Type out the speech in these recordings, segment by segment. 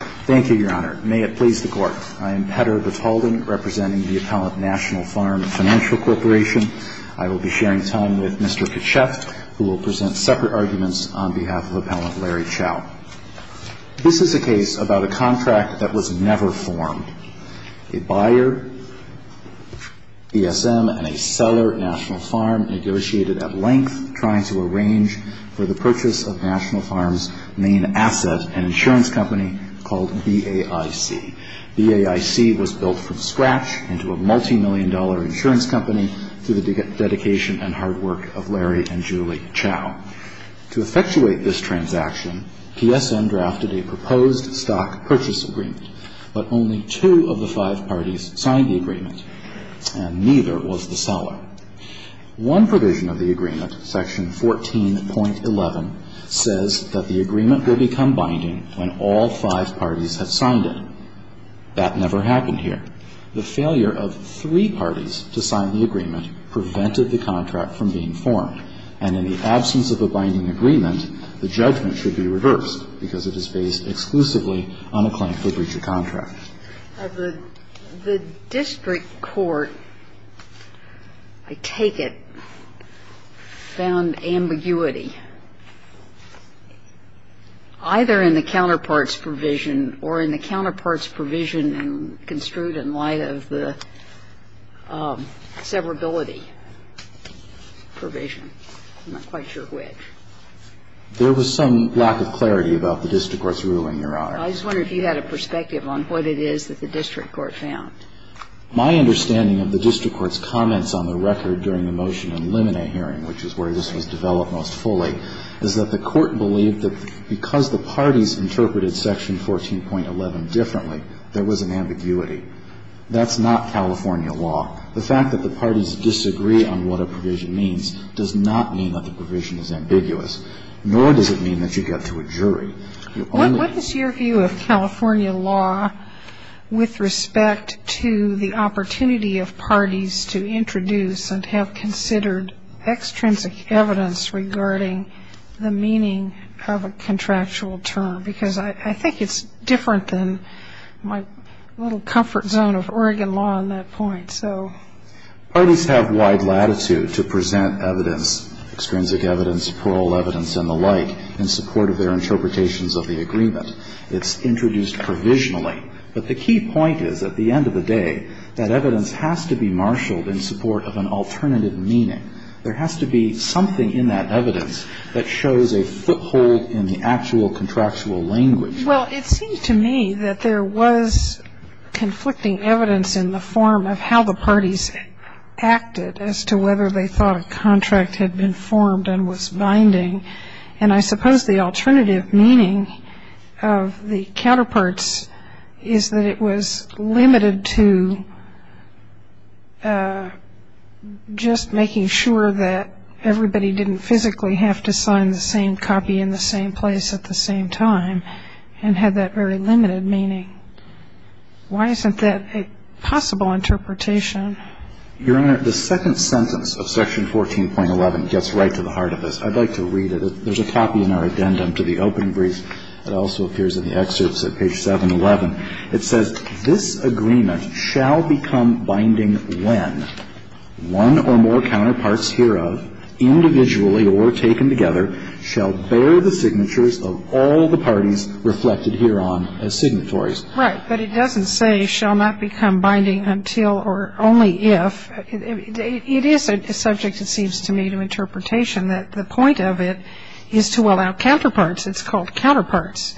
Thank you, Your Honor. May it please the Court. I am Petter Batalden, representing the Appellant National Farm Financial Corporation. I will be sharing time with Mr. Kachef, who will present separate arguments on behalf of Appellant Larry Chow. This is a case about a contract that was never formed. A buyer, PSM, and a seller, National Farm, negotiated at length, trying to arrange for the purchase of National Farm's main asset, an insurance company called BAIC. BAIC was built from scratch into a multimillion-dollar insurance company through the dedication and hard work of Larry and Julie Chow. To effectuate this transaction, PSM drafted a proposed stock purchase agreement, but only two of the five parties signed the agreement, and neither was the seller. One provision of the agreement, Section 14.11, says that the agreement will become binding when all five parties have signed it. That never happened here. The failure of three parties to sign the agreement prevented the contract from being formed, and in the absence of a binding agreement, the judgment should be reversed because it is based exclusively on a claim for breach of contract. The district court, I take it, found ambiguity, either in the counterpart's provision or in the counterpart's provision construed in light of the severability provision. I'm not quite sure which. There was some lack of clarity about the district court's ruling, Your Honor. I just wonder if you had a perspective on what it is that the district court found. My understanding of the district court's comments on the record during the motion in the Lemonet hearing, which is where this was developed most fully, is that the court believed that because the parties interpreted Section 14.11 differently, there was an ambiguity. That's not California law. The fact that the parties disagree on what a provision means does not mean that the provision is ambiguous, nor does it mean that you get to a jury. What is your view of California law with respect to the opportunity of parties to introduce and have considered extrinsic evidence regarding the meaning of a contractual term? Because I think it's different than my little comfort zone of Oregon law on that point. Parties have wide latitude to present evidence, extrinsic evidence, plural evidence, and the like in support of their interpretations of the agreement. It's introduced provisionally. But the key point is, at the end of the day, that evidence has to be marshaled in support of an alternative meaning. There has to be something in that evidence that shows a foothold in the actual contractual language. Well, it seems to me that there was conflicting evidence in the form of how the parties acted as to whether they thought a contract had been formed and was binding. And I suppose the alternative meaning of the counterparts is that it was limited to just making sure that everybody didn't physically have to sign the same copy in the same place at the same time and had that very limited meaning. Why isn't that a possible interpretation? Your Honor, the second sentence of Section 14.11 gets right to the heart of this. I'd like to read it. There's a copy in our addendum to the open brief that also appears in the excerpts at page 711. It says, This agreement shall become binding when one or more counterparts hereof, individually or taken together, shall bear the signatures of all the parties reflected hereon as signatories. Right. But it doesn't say shall not become binding until or only if. It is a subject, it seems to me, to interpretation that the point of it is to allow counterparts. It's called counterparts.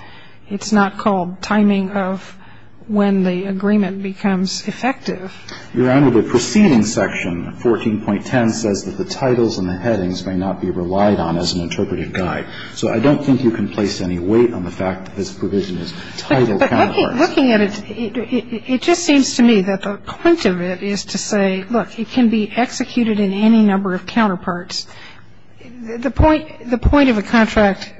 It's not called timing of when the agreement becomes effective. Your Honor, the preceding section, 14.10, says that the titles and the headings may not be relied on as an interpretive guide. So I don't think you can place any weight on the fact that this provision is titled counterparts. But looking at it, it just seems to me that the point of it is to say, look, it can be executed in any number of counterparts. The point of a contract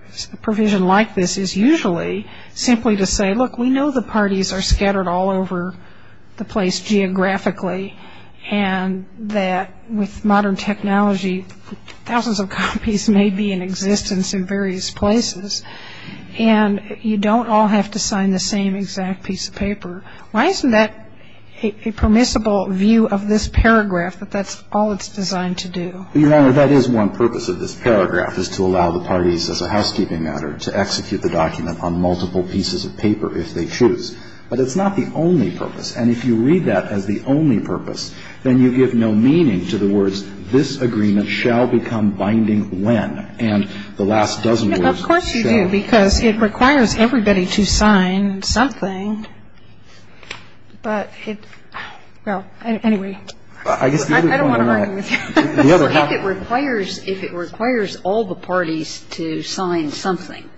provision like this is usually simply to say, look, we know the parties are scattered all over the place geographically and that with modern technology, thousands of copies may be in existence in various places, and you don't all have to sign the same exact piece of paper. Why isn't that a permissible view of this paragraph that that's all it's designed to do? Your Honor, that is one purpose of this paragraph, is to allow the parties as a housekeeping matter to execute the document on multiple pieces of paper if they choose. But it's not the only purpose. And if you read that as the only purpose, then you give no meaning to the words this agreement shall become binding when. And the last dozen words shall. Of course you do, because it requires everybody to sign something. But it, well, anyway. I guess the other point on that. I don't want to argue with you. I think it requires, if it requires all the parties to sign something,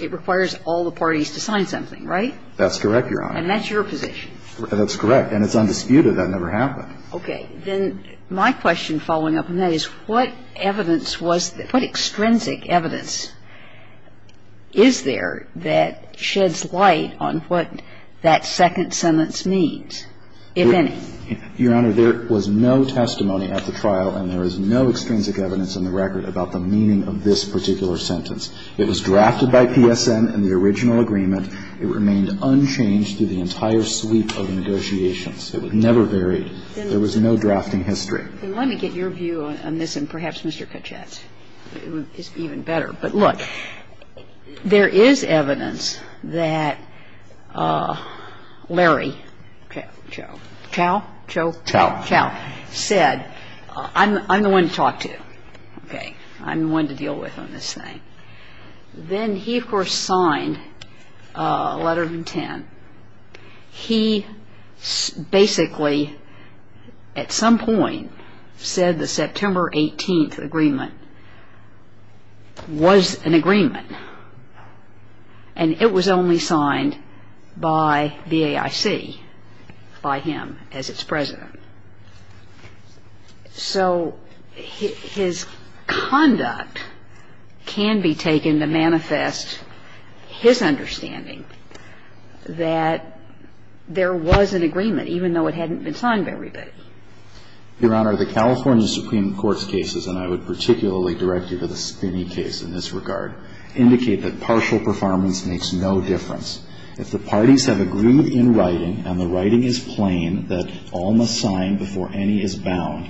it requires all the parties to sign something, right? That's correct, Your Honor. And that's your position. That's correct. And it's undisputed. That never happened. Okay. Then my question following up on that is what evidence was, what extrinsic evidence is there that sheds light on what that second sentence means, if any? Your Honor, there was no testimony at the trial and there is no extrinsic evidence in the record about the meaning of this particular sentence. It was drafted by PSN in the original agreement. It remained unchanged through the entire sweep of negotiations. It was never varied. There was no drafting history. Then let me get your view on this and perhaps Mr. Kachet's. It's even better. But, look, there is evidence that Larry Chow, Chow, Chow? Chow. Chow said, I'm the one to talk to, okay? I'm the one to deal with on this thing. Then he, of course, signed a letter of intent. He basically at some point said the September 18th agreement was an agreement and it was only signed by BAIC, by him as its president. So his conduct can be taken to manifest his understanding that there was an agreement, even though it hadn't been signed by everybody. Your Honor, the California Supreme Court's cases, and I would particularly direct you to the Spinney case in this regard, indicate that partial performance makes no difference. If the parties have agreed in writing and the writing is plain that all must sign before any is bound,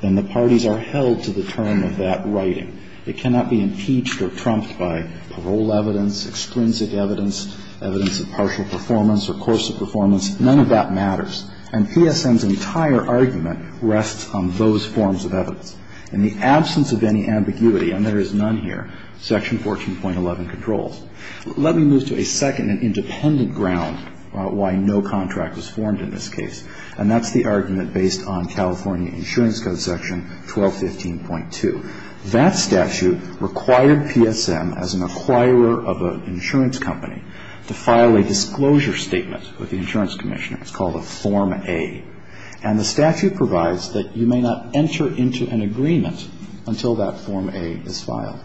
then the parties are held to the term of that writing. It cannot be impeached or trumped by parole evidence, extrinsic evidence, evidence of partial performance or course of performance. None of that matters. And PSM's entire argument rests on those forms of evidence. In the absence of any ambiguity, and there is none here, Section 14.11 controls. Let me move to a second and independent ground why no contract was formed in this case, and that's the argument based on California Insurance Code Section 1215.2. That statute required PSM, as an acquirer of an insurance company, to file a disclosure statement with the insurance commissioner. It's called a Form A. And the statute provides that you may not enter into an agreement until that Form A is filed.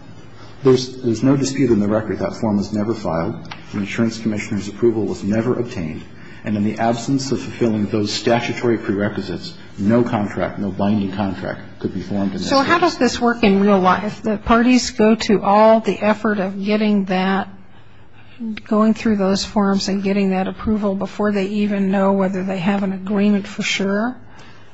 There's no dispute in the record that that form was never filed. The insurance commissioner's approval was never obtained. And in the absence of fulfilling those statutory prerequisites, no contract, no binding contract could be formed in this case. So how does this work in real life? The parties go to all the effort of getting that, going through those forms and getting that approval before they even know whether they have an agreement for sure?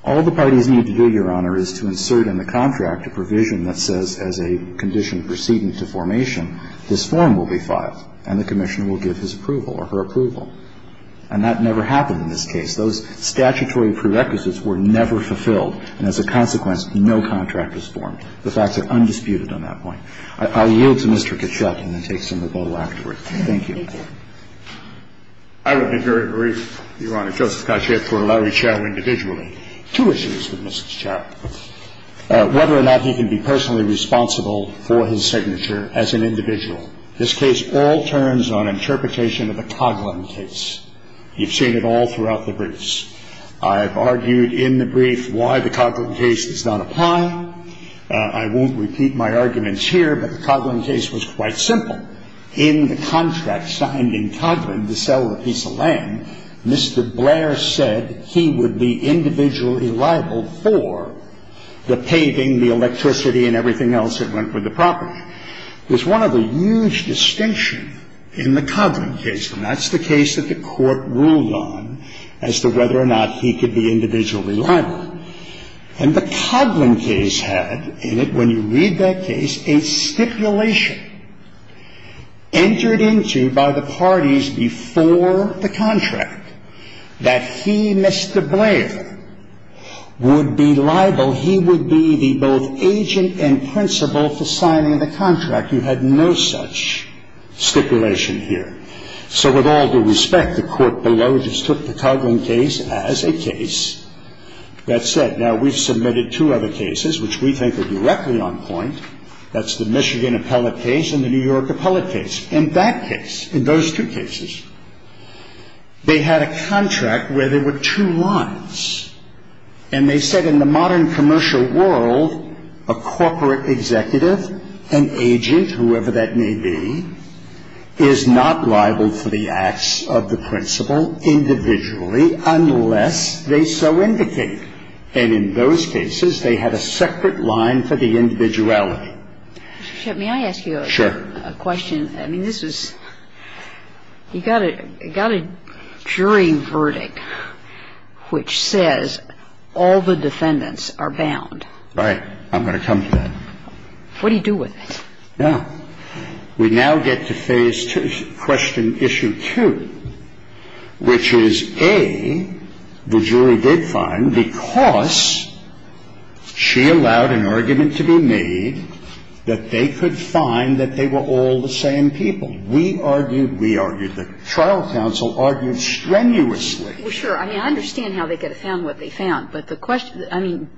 All the parties need to do, Your Honor, is to insert in the contract a provision that says, as a condition preceding to formation, this form will be filed and the commissioner will give his approval or her approval. And that never happened in this case. Those statutory prerequisites were never fulfilled, and as a consequence, no contract was formed. The facts are undisputed on that point. I'll yield to Mr. Kachet and then take some of the vote afterwards. Thank you. I would be very brief, Your Honor. Joseph Kachet put Larry Chau individually. Two issues with Mr. Chau. Whether or not he can be personally responsible for his signature as an individual. This case all turns on interpretation of the Coghlan case. You've seen it all throughout the briefs. I've argued in the brief why the Coghlan case does not apply. I won't repeat my arguments here, but the Coghlan case was quite simple. In the contract signed in Coghlan to sell a piece of land, Mr. Blair said he would be individually liable for the paving, the electricity, and everything else that went with the property. There's one other huge distinction in the Coghlan case, and that's the case that the court ruled on as to whether or not he could be individually liable. And the Coghlan case had in it, when you read that case, a stipulation entered into by the parties before the contract that he, Mr. Blair, would be liable. He would be the both agent and principal for signing the contract. You had no such stipulation here. So with all due respect, the court below just took the Coghlan case as a case. That said, now we've submitted two other cases which we think are directly on point. That's the Michigan appellate case and the New York appellate case. In that case, in those two cases, they had a contract where there were two lines. And they said in the modern commercial world, a corporate executive, an agent, whoever that may be, is not liable for the acts of the principal individually unless they so indicate. And in those cases, they had a separate line for the individuality. I'm not sure that this was considered not subject toيا It was directly subjective. Scalia? Mr. Shephard? Shut meat, I ask you a question. I mean, this is you've got a jury verdict which says all the defendants are bound. All right. I'm going to come to that. What do you do with it? Yeah. We now get to phase two, question issue two, which is, A, the jury did find because she allowed an argument to be made that they could find that they were all the same people. We argued, we argued, the trial counsel argued strenuously. Well, sure. I mean, I understand how they could have found what they found. But the question, I mean,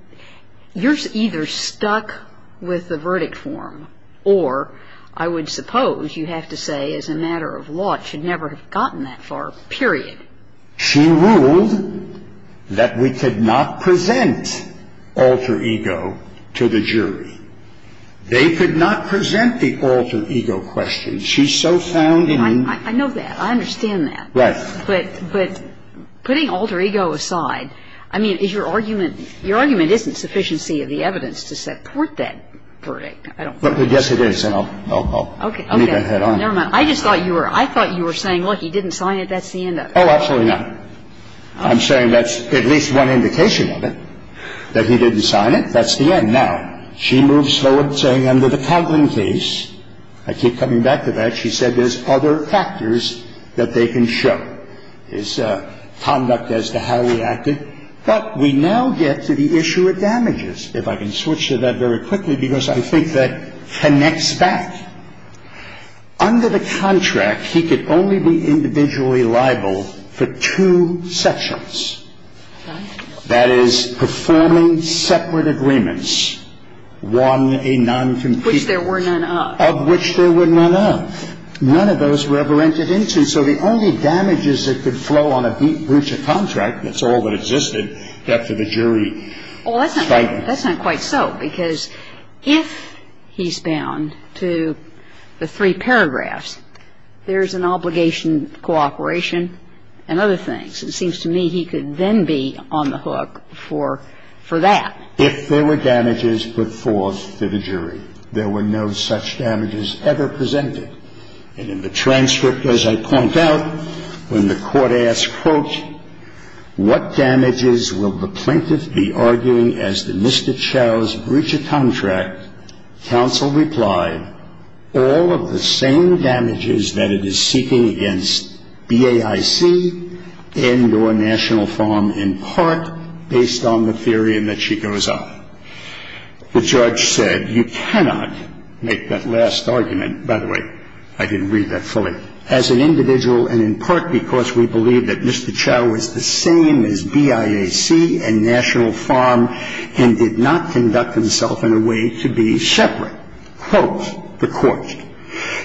you're either stuck with the verdict form or I would suppose you have to say, as a matter of law, it should never have gotten that far, period. She ruled that we could not present alter ego to the jury. They could not present the alter ego question. She so found it in. I know that. I understand that. Right. But putting alter ego aside, I mean, is your argument, your argument isn't sufficiency of the evidence to support that verdict. Yes, it is. And I'll leave that on. Never mind. I just thought you were, I thought you were saying, look, he didn't sign it, that's the end of it. Oh, absolutely not. I'm saying that's at least one indication of it, that he didn't sign it. That's the end. Now, she moves forward saying under the Conklin case, I keep coming back to that, she said there's other factors that they can show. There's conduct as to how he acted. But we now get to the issue of damages. If I can switch to that very quickly, because I think that connects back. Under the contract, he could only be individually liable for two sections. That is, performing separate agreements, one a noncompetent. Which there were none of. None of those were ever entered into. So the only damages that could flow on a breach of contract, that's all that existed, kept to the jury. Well, that's not quite so, because if he's bound to the three paragraphs, there's an obligation to cooperation and other things. It seems to me he could then be on the hook for that. If there were damages put forth to the jury. There were no such damages. There were no damages ever presented. And in the transcript, as I point out, when the court asked, quote, what damages will the plaintiff be arguing as to Mr. Chau's breach of contract, counsel replied, all of the same damages that it is seeking against BAIC and or National Farm in part based on the theory in that she goes on. The judge said you cannot make that last argument. By the way, I didn't read that fully. As an individual and in part because we believe that Mr. Chau is the same as BAIC and National Farm and did not conduct himself in a way to be separate, quote the court,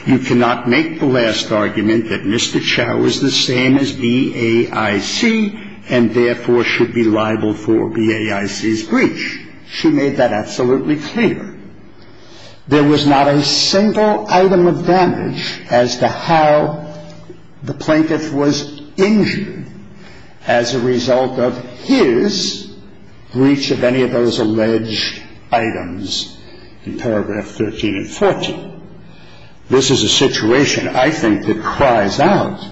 you cannot make the last argument that Mr. Chau is the same as BAIC and therefore should be liable for BAIC's breach. She made that absolutely clear. There was not a single item of damage as to how the plaintiff was injured as a result of his breach of any of those alleged items in paragraph 13 and 14. This is a situation I think that cries out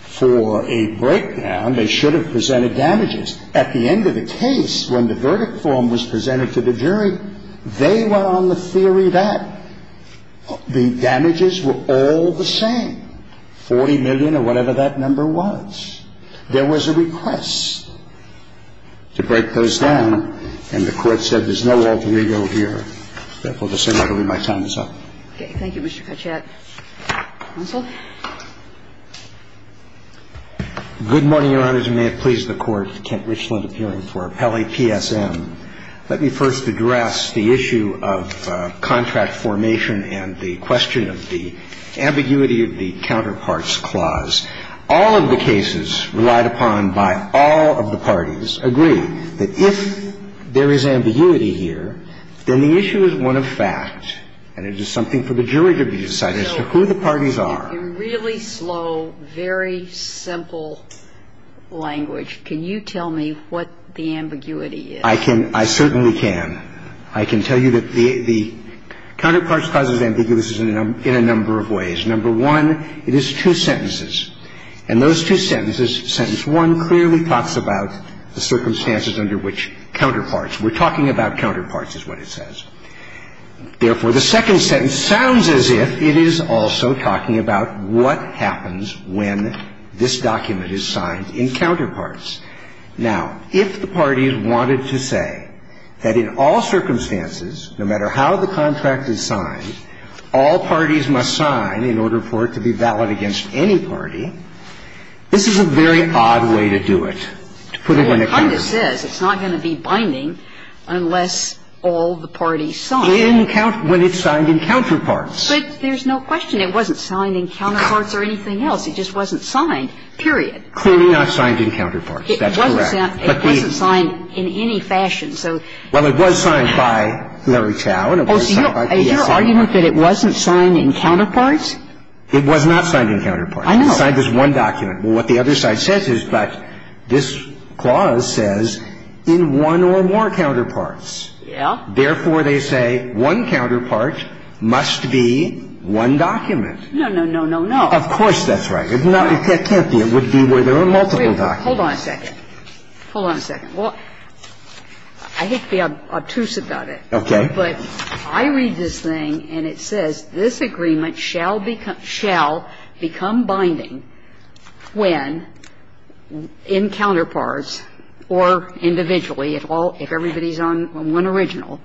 for a breakdown. And if you look at the verdict form, they should have presented damages. At the end of the case, when the verdict form was presented to the jury, they were on the theory that the damages were all the same, 40 million or whatever that number was. There was a request to break those down, and the Court said there's no alter ego here. Therefore, to say nothing of it, my time is up. Okay. Thank you, Mr. Katchad. Counsel. Good morning, Your Honors, and may it please the Court. Kent Richland appearing for Appellate PSM. Let me first address the issue of contract formation and the question of the ambiguity of the Counterparts Clause. All of the cases relied upon by all of the parties agree that if there is ambiguity here, then the issue is one of fact, and it is something for the jury to decide as to who the parties are. So in really slow, very simple language, can you tell me what the ambiguity is? I can. I certainly can. I can tell you that the Counterparts Clause is ambiguous in a number of ways. Number one, it is two sentences, and those two sentences, sentence one clearly talks about the circumstances under which counterparts were talking about counterparts, is what it says. Therefore, the second sentence sounds as if it is also talking about what happens when this document is signed in counterparts. Now, if the parties wanted to say that in all circumstances, no matter how the contract is signed, all parties must sign in order for it to be valid against any party, this is a very odd way to do it, to put it in a context. Well, it kind of says it's not going to be binding unless all the parties sign. When it's signed in counterparts. But there's no question. It wasn't signed in counterparts or anything else. It just wasn't signed, period. Clearly not signed in counterparts. That's correct. It wasn't signed in any fashion. Well, it was signed by Larry Chau and it was signed by PSI. Oh, so your argument that it wasn't signed in counterparts? It was not signed in counterparts. I know. It was signed as one document. Well, what the other side says is, but this clause says in one or more counterparts. Yeah. Therefore, they say one counterpart must be one document. No, no, no, no, no. Of course that's right. It can't be. It would be where there are multiple documents. Hold on a second. Hold on a second. Well, I hate to be obtuse about it. Okay. But I read this thing and it says this agreement shall become binding when in counterparts or individually at all, if everybody's on one original,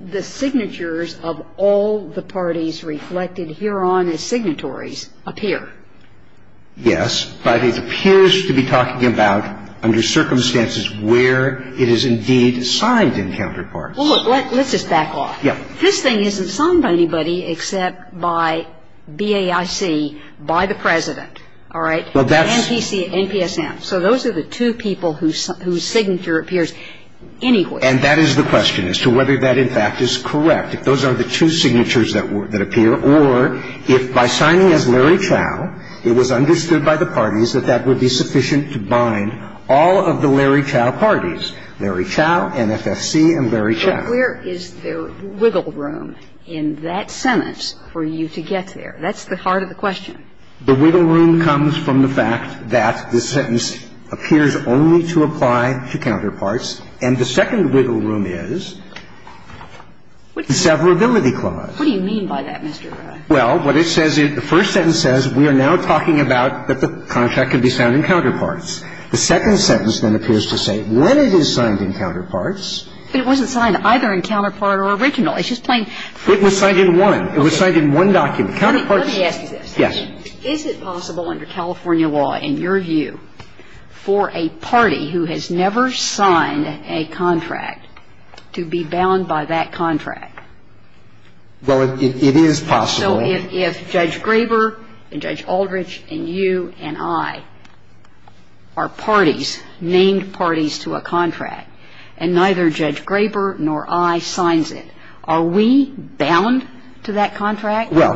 the signatures of all the parties reflected hereon as signatories appear. Yes, but it appears to be talking about under circumstances where it is indeed signed in counterparts. Well, look, let's just back off. Yeah. This thing isn't signed by anybody except by BAIC, by the President, all right, and NPSM. So those are the two people whose signature appears anywhere. And that is the question as to whether that, in fact, is correct. Well, you could say that, in fact, because that would be something that would bind all of the parties. Those are the two signatures that appear, or if by signing as Larry Chow, it was understood by the parties that that would be sufficient to bind all of the Larry Chow parties, Larry Chow, NFSC, and Larry Chow. But where is the wiggle room in that sentence for you to get there? That's the heart of the question. The wiggle room comes from the fact that the sentence appears only to apply to counterparts. And the second wiggle room is the severability clause. What do you mean by that, Mr. Ray? Well, what it says is, the first sentence says we are now talking about that the contract can be signed in counterparts. The second sentence then appears to say when it is signed in counterparts. But it wasn't signed either in counterpart or original. It's just plain. It was signed in one. It was signed in one document. Let me ask you this. Yes. Is it possible under California law, in your view, for a party who has never signed a contract to be bound by that contract? Well, it is possible. So if Judge Graber and Judge Aldrich and you and I are parties, named parties to a contract, and neither Judge Graber nor I signs it, are we bound to that contract? Well,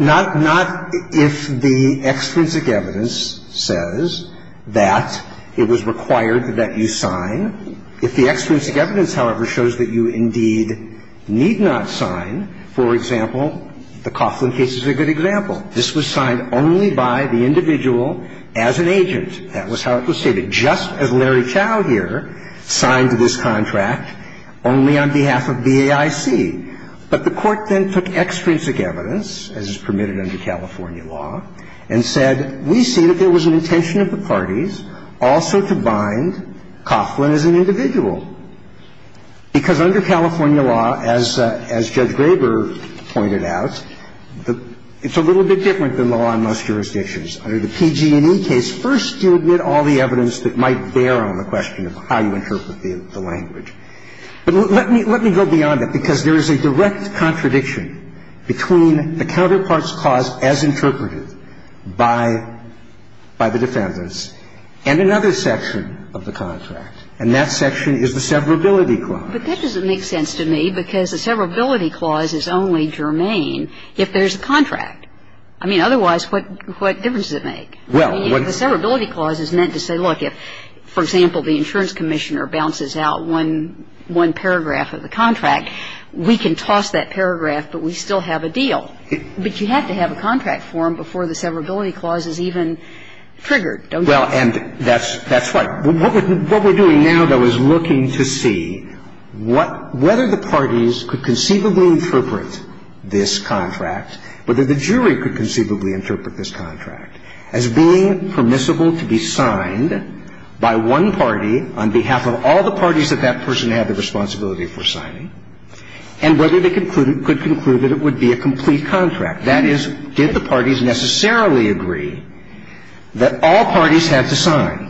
not if the extrinsic evidence says that it was required that you sign. If the extrinsic evidence, however, shows that you indeed need not sign, for example, the Coughlin case is a good example. This was signed only by the individual as an agent. That was how it was stated. Just as Larry Chau here signed this contract only on behalf of BAIC. But the Court then took extrinsic evidence, as is permitted under California law, and said, we see that there was an intention of the parties also to bind Coughlin as an individual. Because under California law, as Judge Graber pointed out, it's a little bit different than the law in most jurisdictions. Under the PG&E case, first you admit all the evidence that might bear on the question of how you interpret the language. But let me go beyond that, because there is a direct contradiction between the counterpart's clause as interpreted by the defendants and another section of the contract, and that section is the severability clause. But that doesn't make sense to me, because the severability clause is only germane if there's a contract. I mean, otherwise, what difference does it make? I mean, the severability clause is meant to say, look, if, for example, the insurance commissioner bounces out one paragraph of the contract, we can toss that paragraph, but we still have a deal. But you have to have a contract form before the severability clause is even triggered. Don't you think? Well, and that's right. What we're doing now, though, is looking to see whether the parties could conceivably interpret this contract, whether the jury could conceivably interpret this contract as being permissible to be signed by one party on behalf of all the parties that that person had the responsibility for signing, and whether they could conclude that it would be a complete contract. That is, did the parties necessarily agree that all parties had to sign?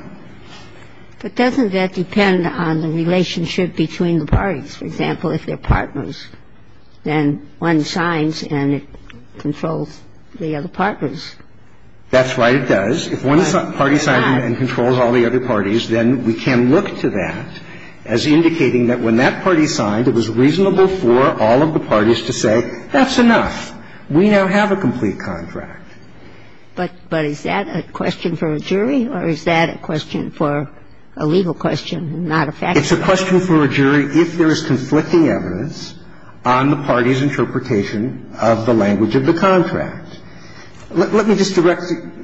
But doesn't that depend on the relationship between the parties? For example, if they're partners, then one signs and it controls the other partners. That's right, it does. If one party signed and controls all the other parties, then we can look to that as indicating that when that party signed, it was reasonable for all of the parties to say, that's enough. We now have a complete contract. But is that a question for a jury, or is that a question for a legal question and not a factual question? It's a question for a jury if there is conflicting evidence on the party's interpretation of the language of the contract. Let me just direct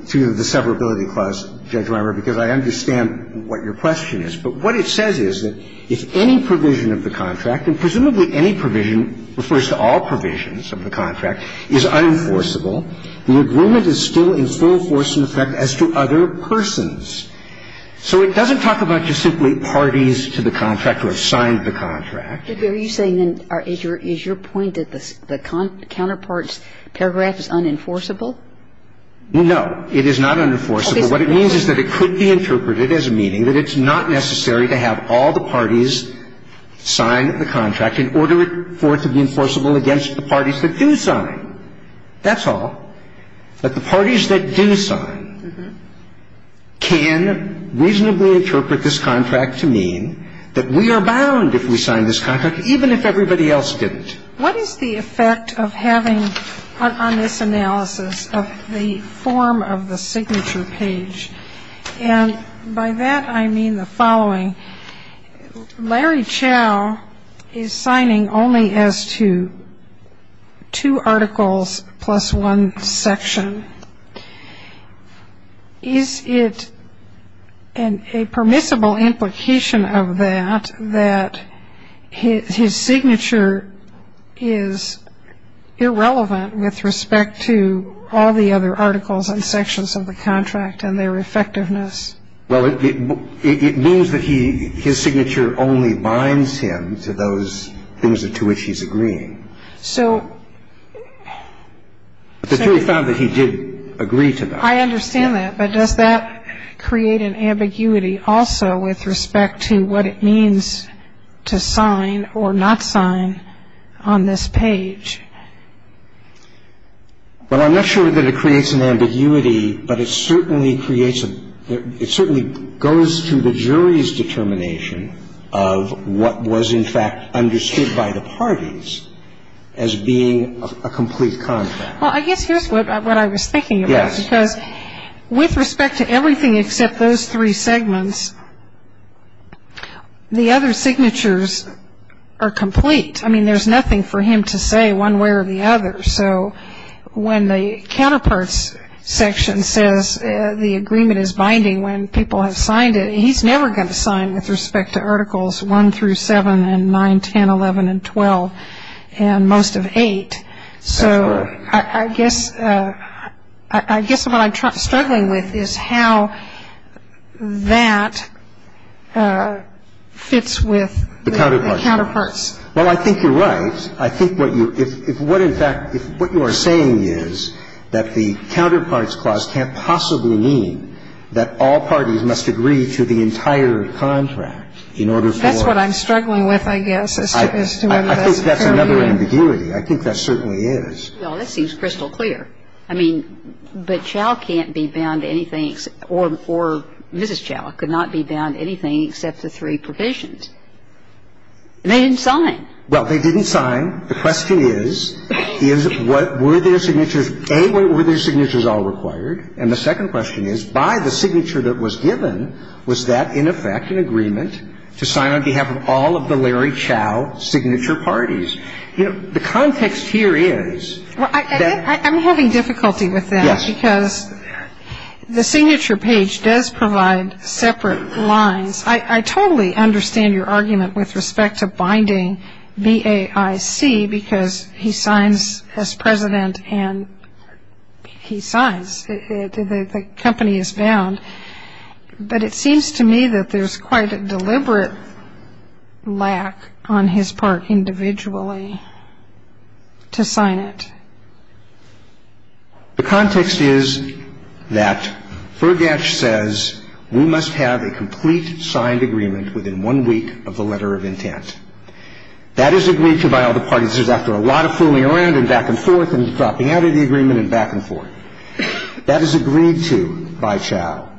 to the severability clause, Judge Weimer, because I understand what your question is. But what it says is that if any provision of the contract, and presumably any provision refers to all provisions of the contract, is unenforceable, the agreement is still in full force and effect as to other persons. So it doesn't talk about just simply parties to the contract or have signed the contract. But are you saying then, is your point that the counterpart's paragraph is unenforceable? No, it is not unenforceable. What it means is that it could be interpreted as meaning that it's not necessary to have all the parties sign the contract in order for it to be enforceable against the parties that do sign. That's all. But the parties that do sign can reasonably interpret this contract to mean that we are bound, if we sign this contract, even if everybody else didn't. What is the effect of having on this analysis of the form of the signature page? And by that, I mean the following. Larry Chao is signing only as to two articles plus one section. Is it a permissible implication of that, that his signature is irrelevant with respect to all the other articles and sections of the contract and their effectiveness? Well, it means that his signature only binds him to those things to which he's agreeing. But the jury found that he did agree to that. I understand that. But does that create an ambiguity also with respect to what it means to sign or not sign on this page? Well, I'm not sure that it creates an ambiguity. But it certainly creates a – it certainly goes to the jury's determination of what was in fact understood by the parties as being a complete contract. Well, I guess here's what I was thinking about. Yes. Because with respect to everything except those three segments, the other signatures are complete. I mean, there's nothing for him to say one way or the other. So when the counterparts section says the agreement is binding when people have signed it, he's never going to sign with respect to Articles 1 through 7 and 9, 10, 11, and 12 and most of 8. That's right. So I guess what I'm struggling with is how that fits with the counterparts. Well, I think you're right. I think what you're – if what in fact – if what you are saying is that the counterparts clause can't possibly mean that all parties must agree to the entire contract in order for – That's what I'm struggling with, I guess, is to whether that's fair or not. I think that's another ambiguity. I think that certainly is. Well, that seems crystal clear. I mean, but Chau can't be bound to anything – or Mrs. Chau could not be bound to anything except the three provisions. You can't – you can't think of any other clause that's bound to that. You can't think of any other clause that's bound to that. They didn't sign. Well, they didn't sign. The question is, is what – were there signature – A, were there signatures all required. And the second question is by the signature that was given, was that in effect an agreement to sign on behalf of all of the Larry Chau signature parties? You know, the context here is that – Well, I'm having difficulty with that. Yes. Because the signature page does provide separate lines. I totally understand your argument with respect to binding B-A-I-C, because he signs as president and he signs. The company is bound. But it seems to me that there's quite a deliberate lack on his part individually to sign it. The context is that Fergash says we must have a complete signed agreement within one week of the letter of intent. That is agreed to by all the parties. This is after a lot of fooling around and back and forth and dropping out of the agreement and back and forth. That is agreed to by Chau.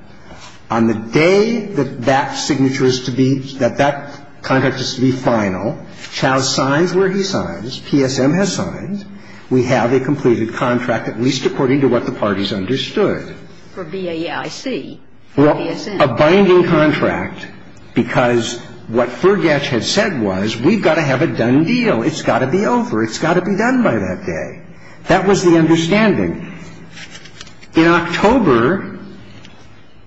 On the day that that signature is to be – that that contract is to be final, Chau signs where he signs. PSM has signed. We have a completed contract, at least according to what the parties understood. For B-A-I-C. Well, a binding contract, because what Fergash had said was we've got to have a done deal. It's got to be over. It's got to be done by that day. That was the understanding. In October,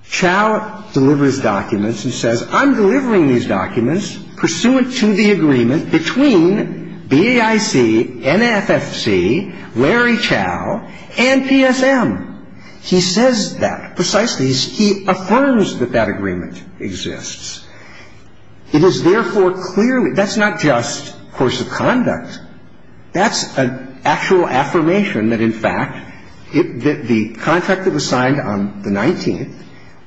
Chau delivers documents and says I'm delivering these documents pursuant to the agreement between B-A-I-C, N-A-F-F-C, Larry Chau, and PSM. He says that precisely. He affirms that that agreement exists. It is therefore clearly – that's not just course of conduct. That's an actual affirmation that, in fact, the contract that was signed on the 19th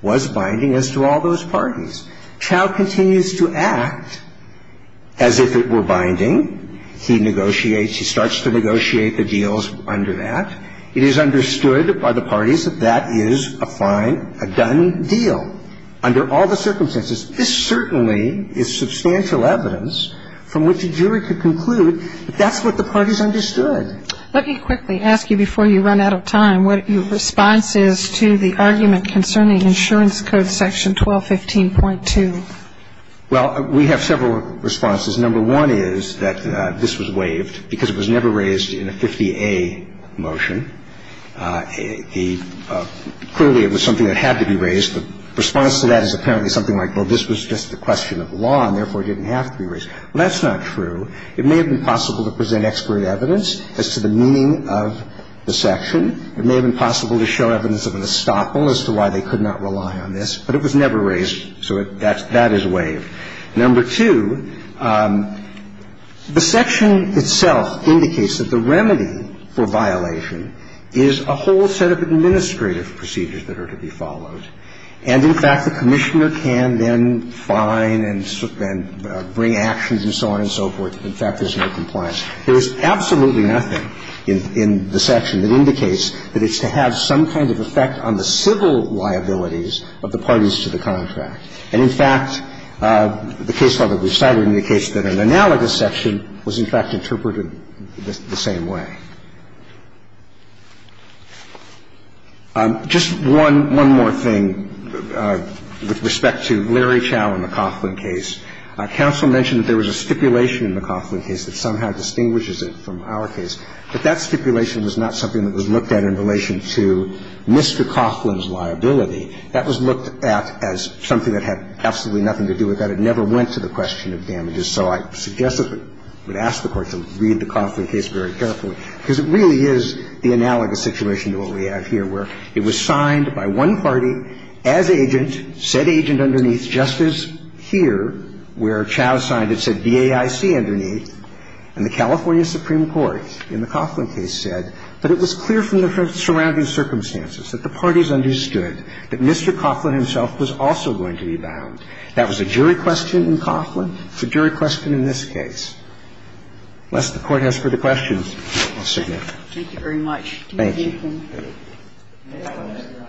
was binding as to all those parties. Chau continues to act as if it were binding. He negotiates. He starts to negotiate the deals under that. It is understood by the parties that that is a fine, a done deal under all the circumstances. This certainly is substantial evidence from which a jury could conclude that that's what the parties understood. Let me quickly ask you before you run out of time what your response is to the argument concerning insurance code section 1215.2. Well, we have several responses. Number one is that this was waived because it was never raised in a 50A motion. Clearly, it was something that had to be raised. The response to that is apparently something like, well, this was just a question of law, and therefore, it didn't have to be raised. Well, that's not true. It may have been possible to present expert evidence as to the meaning of the section. It may have been possible to show evidence of an estoppel as to why they could not rely on this. But it was never raised, so that is waived. Number two, the section itself indicates that the remedy for violation is a whole set of And, in fact, the Commissioner can then fine and bring actions and so on and so forth. In fact, there's no compliance. There is absolutely nothing in the section that indicates that it's to have some kind of effect on the civil liabilities of the parties to the contract. And, in fact, the case file that we've cited indicates that an analogous section was, in fact, interpreted the same way. Just one more thing with respect to Larry Chau and the Coughlin case. Counsel mentioned that there was a stipulation in the Coughlin case that somehow distinguishes it from our case. But that stipulation was not something that was looked at in relation to Mr. Coughlin's liability. That was looked at as something that had absolutely nothing to do with that. It never went to the question of damages. So I suggest that we ask the Court to read the Coughlin case very carefully. Because it really is the analogous situation to what we have here, where it was signed by one party as agent, said agent underneath, just as here, where Chau signed it, said B-A-I-C underneath. And the California Supreme Court in the Coughlin case said that it was clear from the surrounding circumstances that the parties understood that Mr. Coughlin himself was also going to be bound. That was a jury question in Coughlin. It's a jury question in this case. Unless the Court has further questions, I'll sign it. Thank you very much. Thank you.